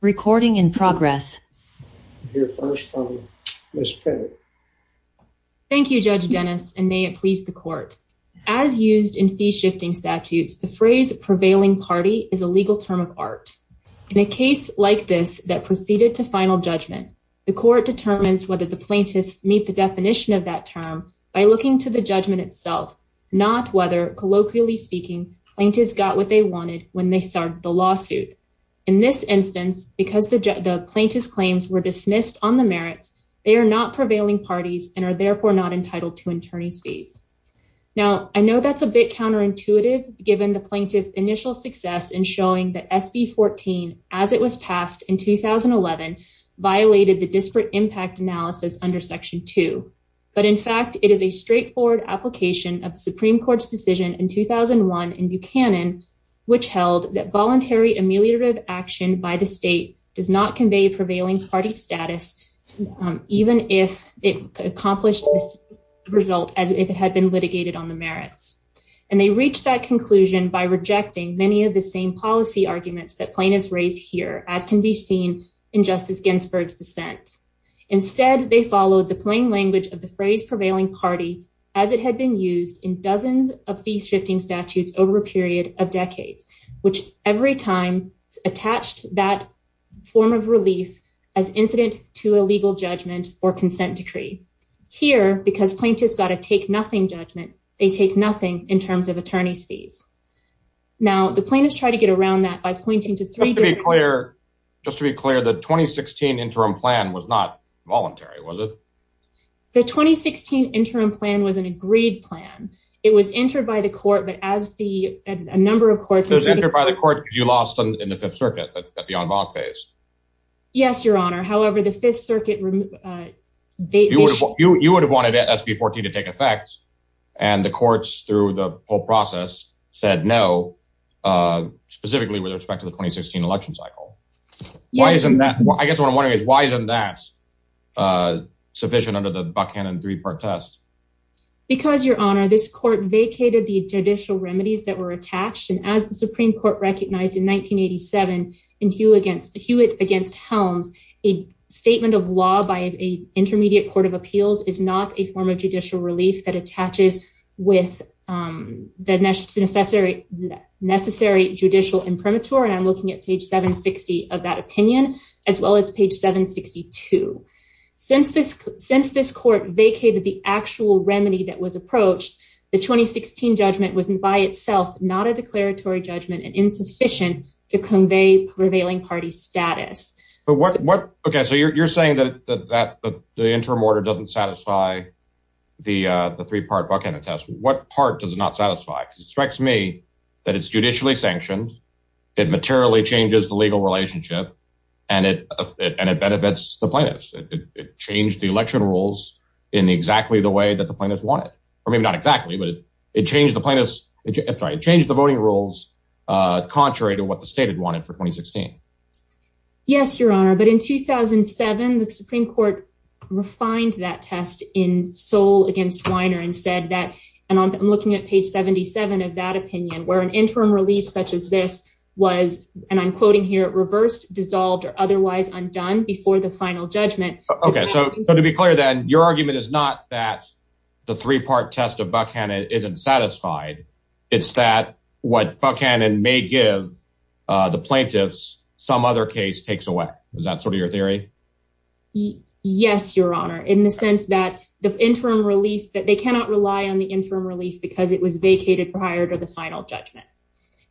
recording in progress here first from miss petty thank you judge dennis and may it please as used in fee shifting statutes the phrase prevailing party is a legal term of art in a case like this that proceeded to final judgment the court determines whether the plaintiffs meet the definition of that term by looking to the judgment itself not whether colloquially speaking plaintiffs got what they wanted when they started the lawsuit in this instance because the plaintiff's claims were dismissed on the merits they are not entitled to attorney's fees now i know that's a bit counterintuitive given the plaintiff's initial success in showing that sb 14 as it was passed in 2011 violated the disparate impact analysis under section 2 but in fact it is a straightforward application of the supreme court's decision in 2001 in buchanan which held that voluntary ameliorative action by the state does not convey prevailing party status even if it accomplished this result as if it had been litigated on the merits and they reached that conclusion by rejecting many of the same policy arguments that plaintiffs raised here as can be seen in justice ginsburg's dissent instead they followed the plain language of the phrase prevailing party as it had been used in dozens of fee shifting statutes over a period of decades which every time attached that form of relief as incident to a legal judgment or consent decree here because plaintiffs got to take nothing judgment they take nothing in terms of attorney's fees now the plaintiffs try to get around that by pointing to three clear just to be clear the 2016 interim plan was not voluntary was it the 2016 interim plan was an agreed plan it was entered by the court but as the a number of courts entered by the court you lost in the fifth circuit at the en banc phase yes your honor however the fifth circuit uh they you would have wanted sp14 to take effect and the courts through the whole process said no uh specifically with respect to the 2016 election cycle why isn't that i guess what i'm wondering is why isn't that uh sufficient under the buckhannon three-part test because your honor this court vacated the judicial remedies that were attached and as the supreme court recognized in 1987 and hewitt against hewitt against helms a statement of law by a intermediate court of appeals is not a form of judicial relief that attaches with um the necessary necessary since this since this court vacated the actual remedy that was approached the 2016 judgment was by itself not a declaratory judgment and insufficient to convey prevailing party status but what what okay so you're saying that that the interim order doesn't satisfy the uh the three-part buckhannon test what part does it not satisfy because it strikes me that it's judicially sanctioned it materially changes the legal relationship and it and it changed the election rules in exactly the way that the plaintiffs want it or maybe not exactly but it changed the plaintiffs it's right it changed the voting rules uh contrary to what the state had wanted for 2016 yes your honor but in 2007 the supreme court refined that test in soul against weiner and said that and i'm looking at page 77 of that opinion where an interim relief such as this was and i'm quoting here reversed dissolved or otherwise undone before the final judgment okay so to be clear then your argument is not that the three-part test of buckhannon isn't satisfied it's that what buckhannon may give uh the plaintiffs some other case takes away is that sort of your theory yes your honor in the sense that the interim relief that they cannot rely on the interim relief because it was vacated prior to the final judgment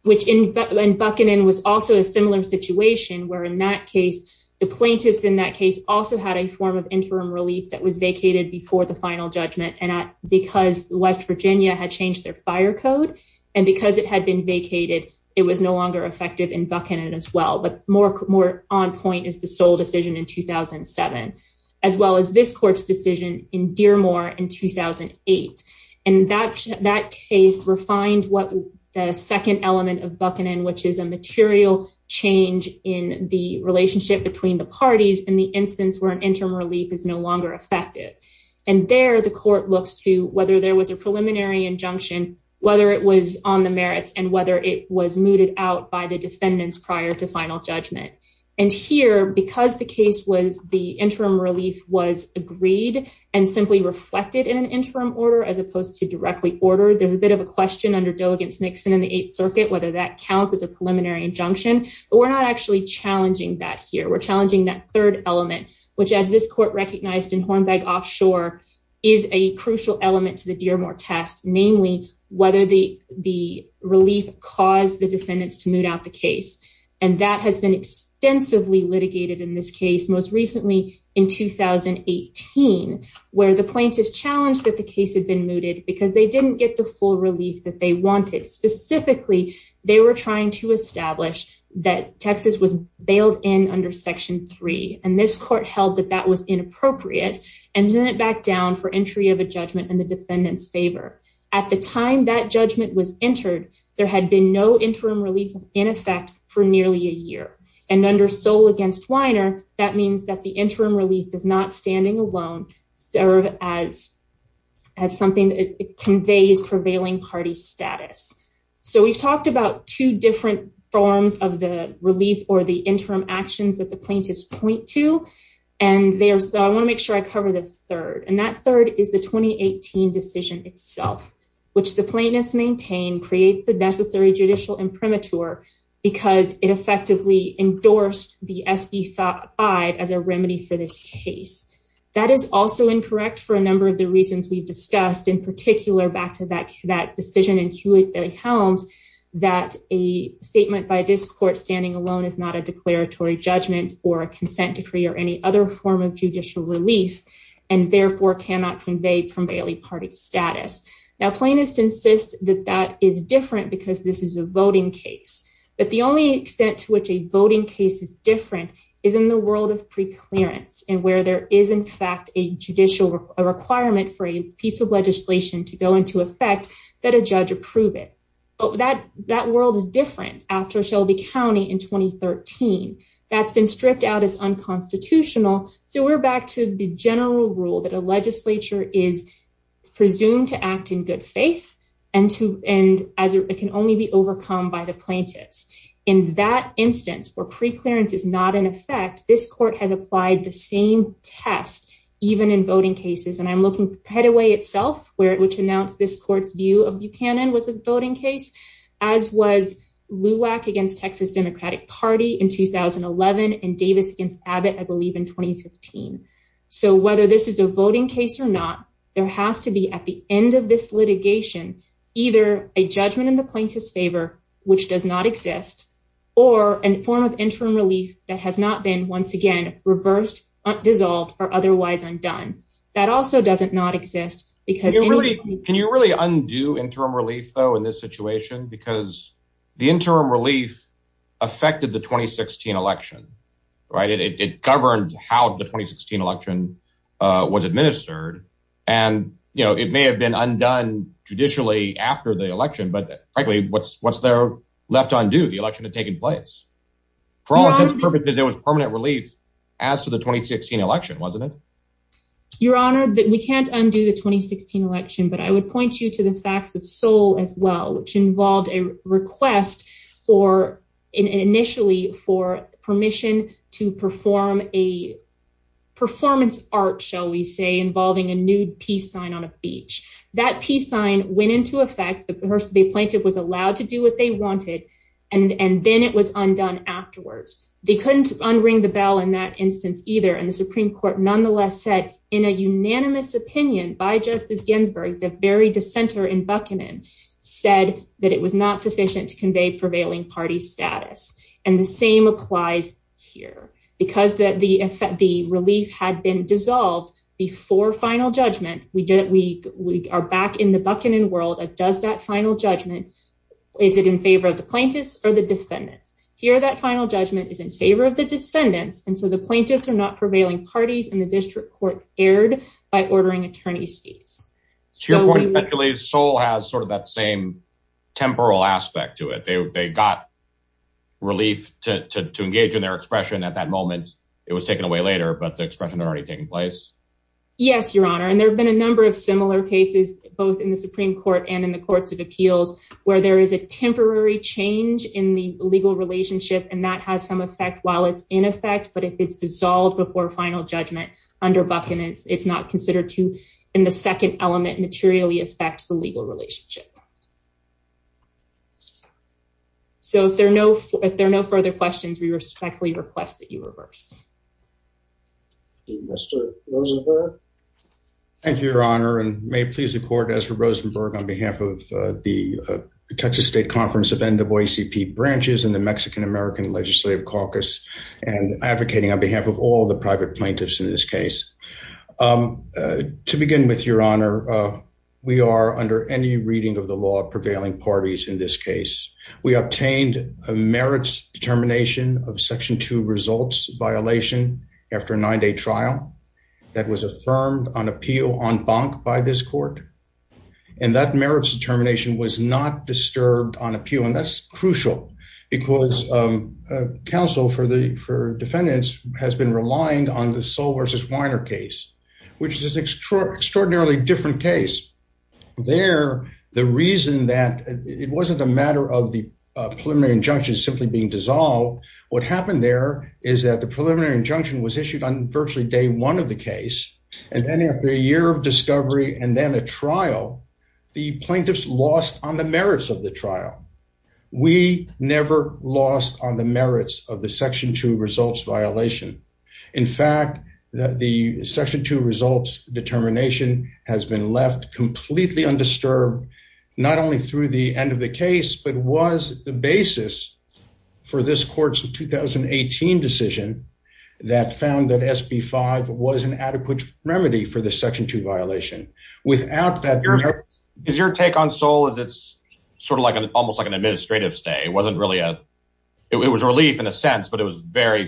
which in buckingham was also a similar situation where in that case the plaintiffs in that case also had a form of interim relief that was vacated before the final judgment and at because west virginia had changed their fire code and because it had been vacated it was no longer effective in buckingham as well but more more on point is the sole decision in 2007 as well as this decision in dearmore in 2008 and that that case refined what the second element of buckingham which is a material change in the relationship between the parties in the instance where an interim relief is no longer effective and there the court looks to whether there was a preliminary injunction whether it was on the merits and whether it was mooted out by the defendants prior to final judgment and here because the case was the interim relief was agreed and simply reflected in an interim order as opposed to directly ordered there's a bit of a question under doe against nixon in the eighth circuit whether that counts as a preliminary injunction but we're not actually challenging that here we're challenging that third element which as this court recognized in hornbeck offshore is a crucial element to the dearmore test namely whether the the relief caused the defendants to moot out the case and that has been extensively litigated in this case most recently in 2018 where the plaintiffs challenged that the case had been mooted because they didn't get the full relief that they wanted specifically they were trying to establish that texas was bailed in under section 3 and this court held that that was inappropriate and sent it back down for entry of a judgment in the defendant's favor at the time that judgment was entered there had been no interim relief in effect for nearly a year and under soul against weiner that means that the interim relief does not standing alone serve as as something that conveys prevailing party status so we've talked about two different forms of the relief or the interim actions that the plaintiffs point to and there's i want to make sure i cover the third and that third is the 2018 decision itself which the plaintiffs maintain creates the necessary judicial imprimatur because it effectively endorsed the sb5 as a remedy for this case that is also incorrect for a number of the reasons we've discussed in particular back to that that decision in hewitt bailey helms that a statement by this court standing alone is not a declaratory judgment or a consent decree or any other form of judicial relief and therefore cannot convey primarily party status now plaintiffs insist that that is different because this is a voting case but the only extent to which a voting case is different is in the world of pre-clearance and where there is in fact a judicial requirement for a piece of legislation to go into effect that a judge approve it but that that world is different after shelby county in 2013 that's been stripped out as unconstitutional so we're back to the general rule that a legislature is presumed to act in good faith and to and as it can only be overcome by the plaintiffs in that instance where pre-clearance is not in effect this court has applied the same test even in voting cases and i'm looking headway itself where which announced this court's view of buchanan was a voting case as was luak against texas democratic party in 2011 and davis against abbott i believe in 2015 so whether this is a voting case or not there has to be at the end of this litigation either a judgment in the plaintiff's favor which does not exist or a form of interim relief that has not been once again reversed dissolved or otherwise undone that also doesn't not exist because can you really undo interim relief though in this situation because the interim relief affected the 2016 election right it governed how the 2016 election uh was administered and you know it may have been undone judicially after the election but frankly what's what's there left undue the election had taken place for all intents and purposes there was we can't undo the 2016 election but i would point you to the facts of soul as well which involved a request for initially for permission to perform a performance art shall we say involving a nude peace sign on a beach that peace sign went into effect the person they plaintiff was allowed to do what they wanted and and then it was undone afterwards they couldn't unring the bell in that opinion by justice ginsburg the very dissenter in buckingham said that it was not sufficient to convey prevailing party status and the same applies here because that the effect the relief had been dissolved before final judgment we did we we are back in the buckingham world that does that final judgment is it in favor of the plaintiffs or the defendants here that final judgment is in favor of the defendants and so the plaintiffs are not prevailing parties in the district court aired by ordering attorney's fees so unfortunately soul has sort of that same temporal aspect to it they got relief to to engage in their expression at that moment it was taken away later but the expression had already taken place yes your honor and there have been a number of similar cases both in the supreme court and in the courts of appeals where there is a temporary change in the legal relationship and that has some effect while it's in effect but if it's dissolved before final judgment under buckingham it's not considered to in the second element materially affect the legal relationship so if there are no if there are no further questions we respectfully request that you reverse mr rosenberg thank you your honor and may it please the court as for rosenberg on behalf of the texas state conference of n-double-a-c-p branches and the mexican-american legislative caucus and advocating on behalf of all the private plaintiffs in this case to begin with your honor we are under any reading of the law prevailing parties in this case we obtained a merits determination of section 2 results violation after a nine-day trial that was affirmed on appeal on bonk by this court and that merits determination was not disturbed on appeal that's crucial because council for the for defendants has been relying on the sole versus weiner case which is an extraordinarily different case there the reason that it wasn't a matter of the preliminary injunction simply being dissolved what happened there is that the preliminary injunction was issued on virtually day one of the case and then after a year of discovery and then a trial the plaintiffs lost on the merits of the trial we never lost on the merits of the section two results violation in fact the section two results determination has been left completely undisturbed not only through the end of the case but was the basis for this court's 2018 decision that found that sb5 was an adequate remedy for the section 2 violation without that is your take on soul is it's sort of like an almost like an administrative stay it wasn't really a it was relief in a sense but it was very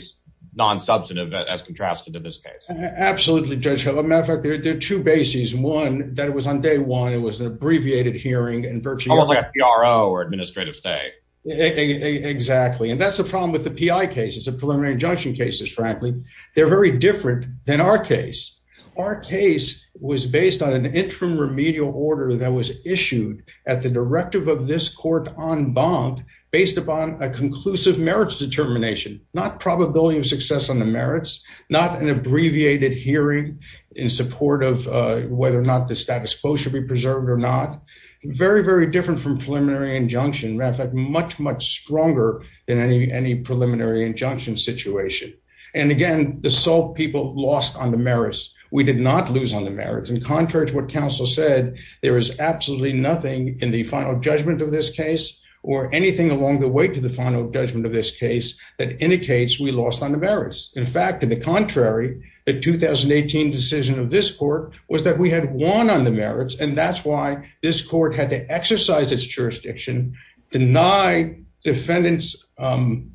non-substantive as contrasted to this case absolutely judge however matter of fact there are two bases one that it was on day one it was an abbreviated hearing and virtually like a pro or administrative stay exactly and that's the problem with the pi cases of preliminary injunction cases frankly they're very different than our case our case was based on an interim remedial order that was issued at the directive of this court on bond based upon a conclusive merits determination not probability of success on the merits not an abbreviated hearing in support of uh whether or not the status quo should be preserved or not very very different from preliminary injunction matter of fact much much stronger than any any preliminary injunction situation and again the salt people lost on the merits we did not lose on the merits in contrast what counsel said there is absolutely nothing in the final judgment of this case or anything along the way to the final judgment of this case that indicates we lost on the merits in fact in the contrary the 2018 decision of this court was that we had won on merits and that's why this court had to exercise its jurisdiction deny defendant's um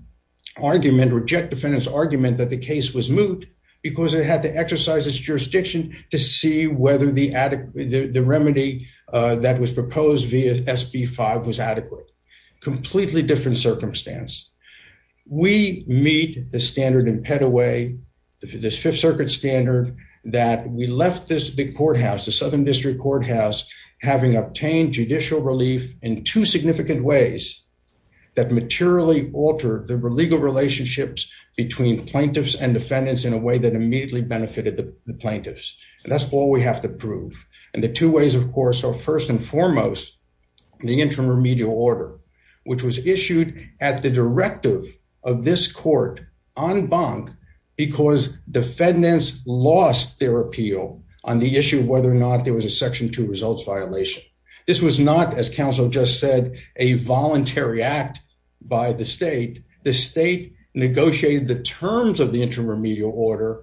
argument reject defendant's argument that the case was moot because it had to exercise its jurisdiction to see whether the adequate the remedy uh that was proposed via sb5 was adequate completely different circumstance we meet the standard in pediway this fifth circuit standard that we left the courthouse the southern district courthouse having obtained judicial relief in two significant ways that materially altered the legal relationships between plaintiffs and defendants in a way that immediately benefited the plaintiffs and that's all we have to prove and the two ways of course are first and foremost the interim remedial order which was issued at the directive of this court on bonk because defendants lost their appeal on the issue of whether or not there was a section two results violation this was not as counsel just said a voluntary act by the state the state negotiated the terms of the interim remedial order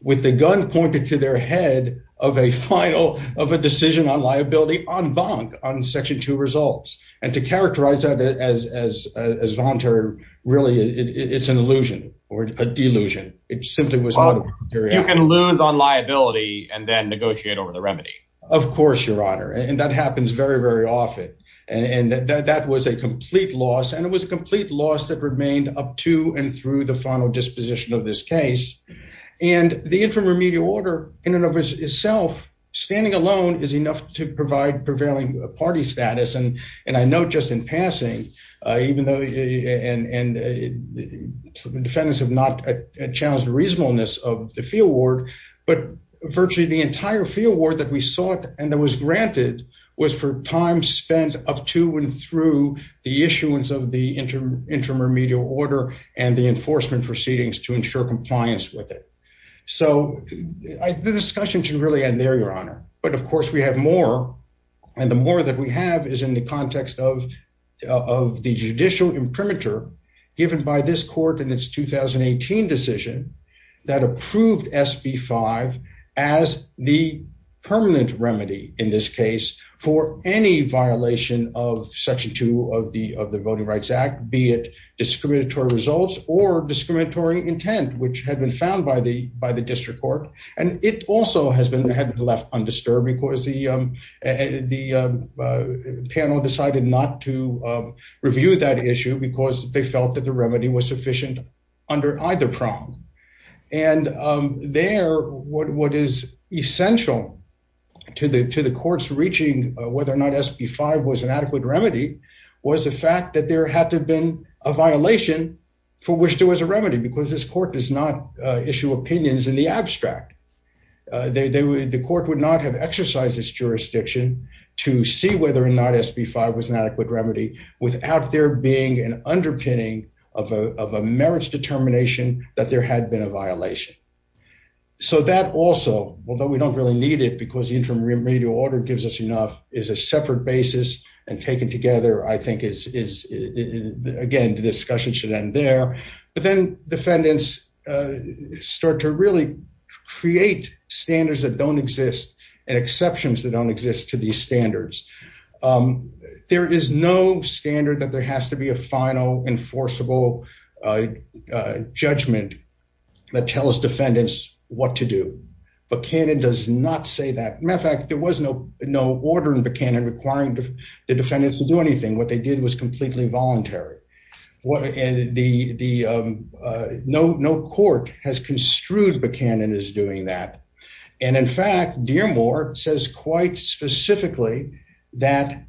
with the gun pointed to their head of a final of a decision on liability on bonk on section two results and to characterize that as as as voluntary really it's an illusion or a delusion it simply was you can lose on liability and then negotiate over the remedy of course your honor and that happens very very often and that was a complete loss and it was a complete loss that remained up to and through the final disposition of this case and the interim remedial order in and of itself standing alone is enough to provide prevailing party status and and i know just in passing uh even though and and defendants have not challenged the reasonableness of the field ward but virtually the entire field ward that we sought and that was granted was for time spent up to and through the issuance of the interim intermedial order and the enforcement proceedings to ensure compliance with it so the discussion should really end there your honor but of course we have more and the more that we have is in the context of of the judicial imprimatur given by this court in its 2018 decision that approved sb5 as the permanent remedy in this case for any violation of section two of the of the voting rights act be it discriminatory results or discriminatory intent which had been found by by the district court and it also has been had left undisturbed because the panel decided not to review that issue because they felt that the remedy was sufficient under either prong and there what is essential to the to the courts reaching whether or not sp5 was an adequate remedy was the fact that there had to have been a violation for which there was a remedy because this court does not issue opinions in the abstract they would the court would not have exercised this jurisdiction to see whether or not sp5 was an adequate remedy without there being an underpinning of a of a merits determination that there had been a violation so that also although we don't really need it because the interim remedial order gives us enough is a separate basis and taken together i think is is again the discussion should end there but then defendants start to really create standards that don't exist and exceptions that don't exist to these standards there is no standard that there has to be a final enforceable judgment that tells defendants what to do but canon does not say that matter of fact there was no no order in the canon requiring the defendants to do anything what they did was completely voluntary what and the the no no court has construed the canon is doing that and in fact dearmore says quite specifically that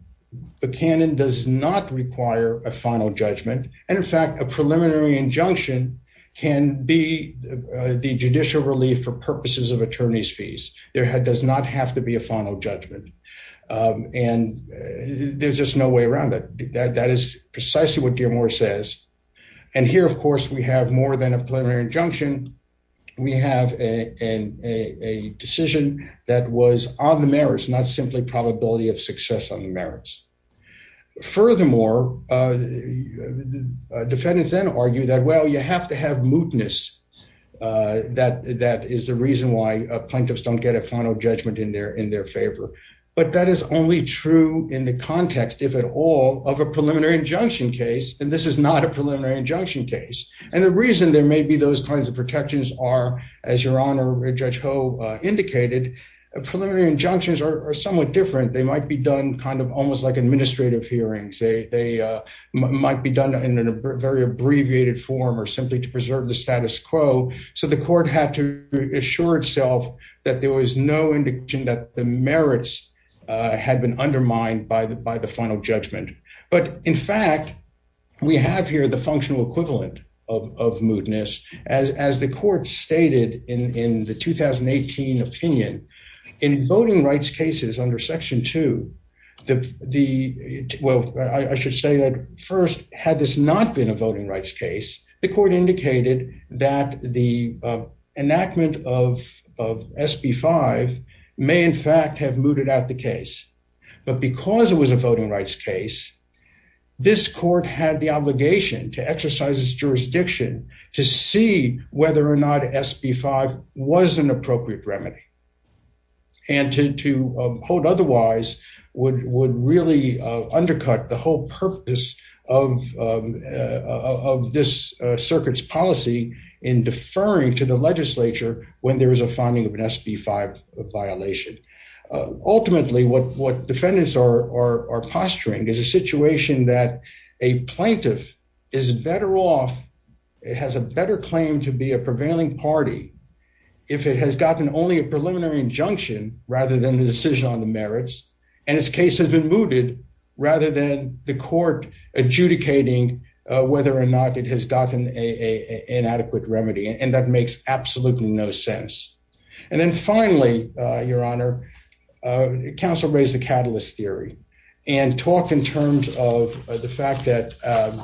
the canon does not require a final judgment and in fact a preliminary injunction can be the judicial relief for purposes of attorney's fees there does not have to be a final judgment and there's just no way around that that is precisely what dearmore says and here of course we have more than a preliminary injunction we have a a decision that was on the merits not simply probability of success on the merits furthermore uh defendants then argue that well you have to have mootness uh that that is the reason why plaintiffs don't get a final judgment in their in their favor but that is only true in the context if at all of a preliminary injunction case and this is not a preliminary injunction case and the reason there may be those kinds of protections are as your honor judge ho indicated preliminary injunctions are somewhat different they might be done kind of almost like administrative hearings they they might be done in a very abbreviated form or simply to preserve the that there was no indication that the merits uh had been undermined by the by the final judgment but in fact we have here the functional equivalent of of mootness as as the court stated in in the 2018 opinion in voting rights cases under section 2 the the well i should say that first had this been a voting rights case the court indicated that the enactment of of sb5 may in fact have mooted out the case but because it was a voting rights case this court had the obligation to exercise its jurisdiction to see whether or not sb5 was an appropriate remedy and to to hold would would really uh undercut the whole purpose of of this circuit's policy in deferring to the legislature when there is a finding of an sb5 violation ultimately what what defendants are are posturing is a situation that a plaintiff is better off it has a better claim to be a prevailing party if it has gotten only a preliminary injunction rather than the decision on the merits and its case has been mooted rather than the court adjudicating uh whether or not it has gotten a an adequate remedy and that makes absolutely no sense and then finally uh your honor uh council raised the catalyst theory and talked in terms of the fact that um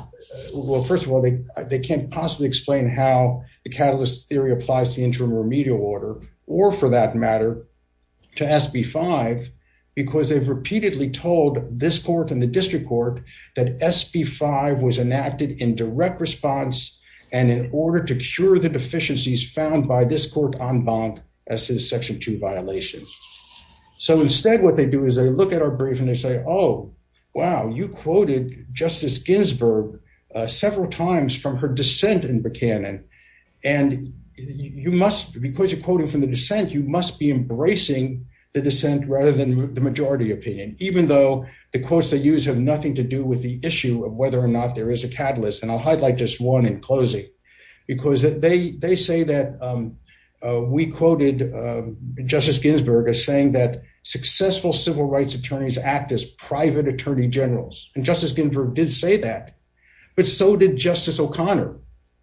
well first of they can't possibly explain how the catalyst theory applies to the interim remedial order or for that matter to sb5 because they've repeatedly told this court and the district court that sb5 was enacted in direct response and in order to cure the deficiencies found by this court en banc as his section 2 violation so instead what they do is they look at our brief and they oh wow you quoted justice Ginsburg uh several times from her dissent in Buchanan and you must because you're quoting from the dissent you must be embracing the dissent rather than the majority opinion even though the quotes they use have nothing to do with the issue of whether or not there is a catalyst and I'll highlight just one in closing because they they say that um we quoted justice Ginsburg as saying that successful civil rights attorneys act as private attorney generals and justice Ginsburg did say that but so did justice o'connor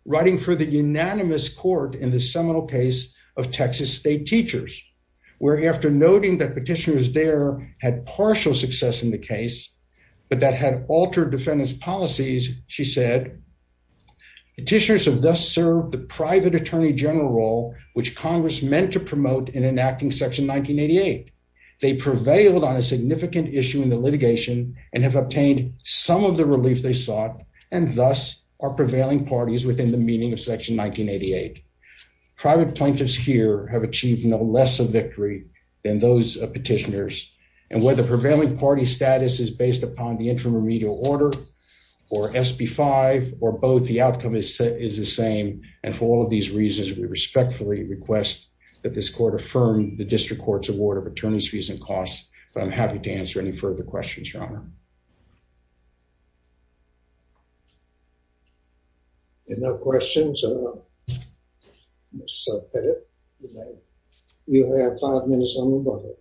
writing for the unanimous court in the seminal case of texas state teachers where after noting that petitioners there had partial success in the case but that had altered defendant's policies she said petitioners have thus served the private attorney general role which congress meant to promote in enacting section 1988 they prevailed on a significant issue in the litigation and have obtained some of the relief they sought and thus are prevailing parties within the meaning of section 1988 private plaintiffs here have achieved no less of victory than those petitioners and the prevailing party status is based upon the interim remedial order or sp5 or both the outcome is set is the same and for all of these reasons we respectfully request that this court affirm the district court's award of attorneys fees and costs but i'm happy to answer any further questions your honor enough questions you have five minutes on the record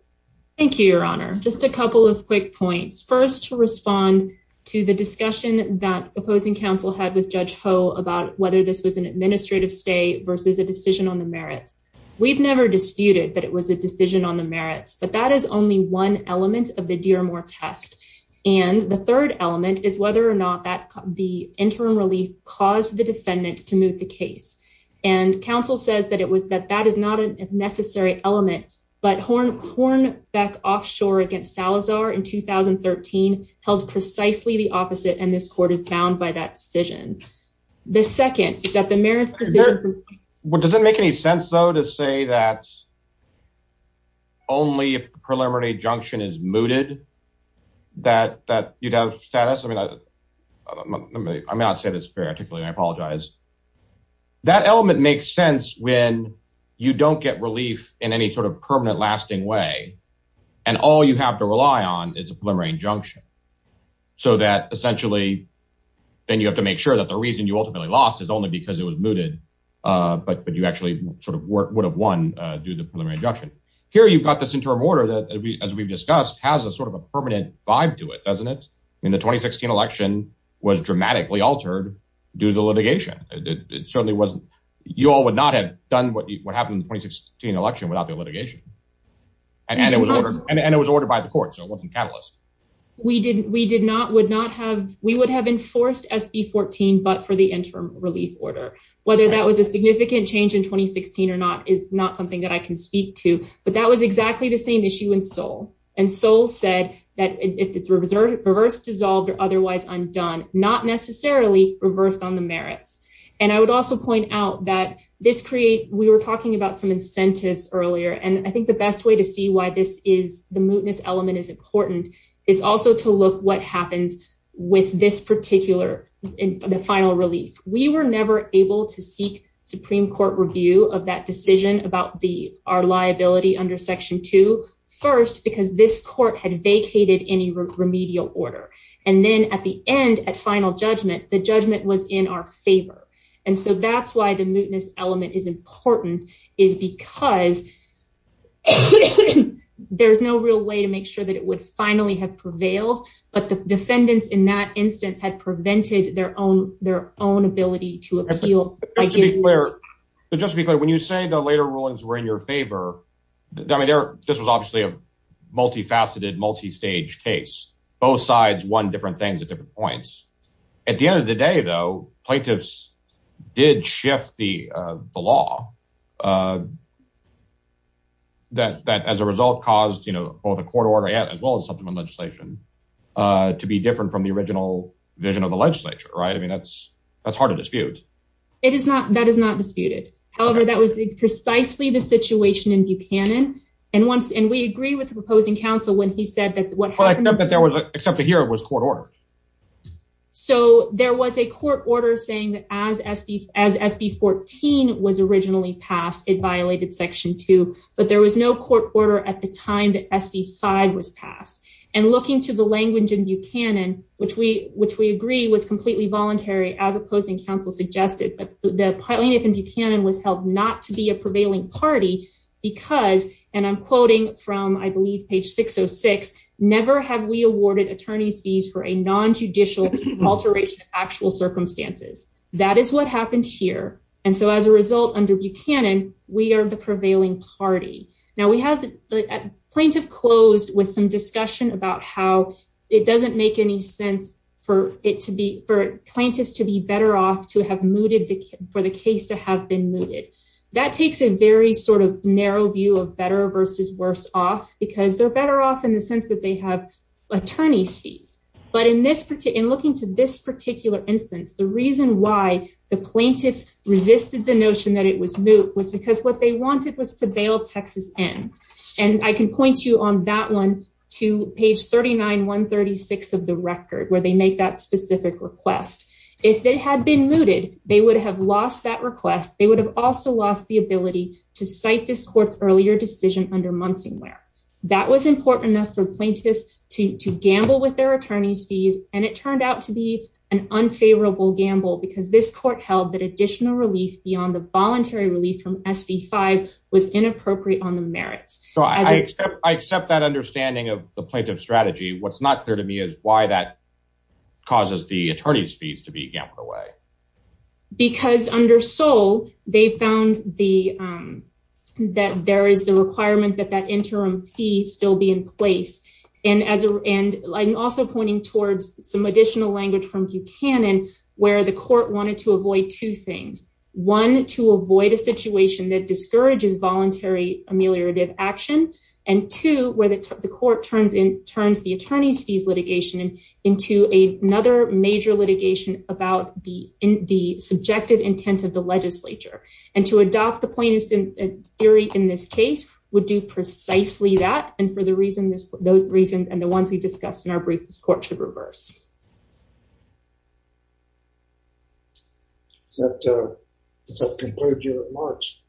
thank you your honor just a couple of quick points first to respond to the discussion that opposing counsel had with judge ho about whether this was an administrative stay versus a decision on the merits we've never disputed that it was a decision on the merits but that is only one element of the dear mort test and the third element is whether or not that the interim relief caused the defendant to move the case and counsel says that it was that that is not a necessary element but horn horn back offshore against salazar in 2013 held precisely the opposite and this court is bound by that decision the second that the merits decision what does it make any sense though to say that only if the preliminary junction is mooted that that you'd have status i mean i'm not i'm not saying it's fair particularly i apologize that element makes sense when you don't get relief in any sort of permanent lasting way and all you have to rely on is a preliminary injunction so that essentially then you have to make sure that the reason you ultimately lost is only because it was mooted uh but but you actually sort of would have won uh due to preliminary injunction here you've got this interim order that as we've discussed has a sort of a permanent vibe to it doesn't it i mean the 2016 election was dramatically altered due to litigation it certainly wasn't you all would not have done what happened in the 2016 election without the litigation and it was ordered and it was ordered by the court so it wasn't catalyst we didn't we did not would not have we would have enforced sb 14 but for the interim relief order whether that was a significant change in 2016 or not is not something that i can speak to but that was exactly the same issue in soul and soul said that if it's reserved reversed dissolved or otherwise undone not necessarily reversed on the merits and i would also point out that this create we were talking about some incentives earlier and i think the best way to why this is the mootness element is important is also to look what happens with this particular the final relief we were never able to seek supreme court review of that decision about the our liability under section two first because this court had vacated any remedial order and then at the end at final judgment the judgment was in our favor and so that's why the mootness element is important is because there's no real way to make sure that it would finally have prevailed but the defendants in that instance had prevented their own their own ability to appeal but just to be clear when you say the later rulings were in your favor i mean there this was obviously a multi-faceted multi-stage case both sides won different things at different points at the end of the day though plaintiffs did shift the uh the law uh that that as a result caused you know both a court order yet as well as subsequent legislation uh to be different from the original vision of the legislature right i mean that's that's hard to dispute it is not that is not disputed however that was precisely the situation in buchanan and once and we agree with the proposing counsel when he said that what i that there was except to hear it was court order so there was a court order saying that as sb as sb 14 was originally passed it violated section 2 but there was no court order at the time that sb 5 was passed and looking to the language in buchanan which we which we agree was completely voluntary as opposing counsel suggested but the plaintiff in buchanan was held not to be a attorney's fees for a non-judicial alteration of actual circumstances that is what happened here and so as a result under buchanan we are the prevailing party now we have the plaintiff closed with some discussion about how it doesn't make any sense for it to be for plaintiffs to be better off to have mooted the for the case to have been mooted that takes a very sort of narrow view of better versus worse off because they're better off in the sense that they have attorney's fees but in this particular in looking to this particular instance the reason why the plaintiffs resisted the notion that it was moot was because what they wanted was to bail texas in and i can point you on that one to page 39 136 of the record where they make that specific request if they had been mooted they would have lost that request they would have also lost the ability to cite this court's earlier decision under munsing wear that was important enough for plaintiffs to to gamble with their attorney's fees and it turned out to be an unfavorable gamble because this court held that additional relief beyond the voluntary relief from sv5 was inappropriate on the merits so i accept i accept that understanding of the plaintiff strategy what's not clear to me is why that causes the attorney's fees to be gambled away because under soul they found the um that there is the requirement that that interim fee still be in place and as a and i'm also pointing towards some additional language from buchanan where the court wanted to avoid two things one to avoid a situation that discourages voluntary ameliorative action and two where the court turns in turns the attorney's fees litigation into a another major litigation about the in the subjective intent of the legislature and to adopt the plaintiffs in theory in this case would do precisely that and for the reason this those reasons and the ones we discussed in our brief this court should reverse that uh does that conclude your remarks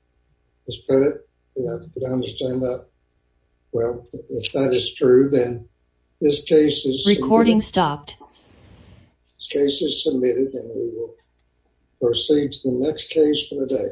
let's put it you don't understand that well if that is true then this case is recording stopped this case is submitted and we will proceed to the next case for the day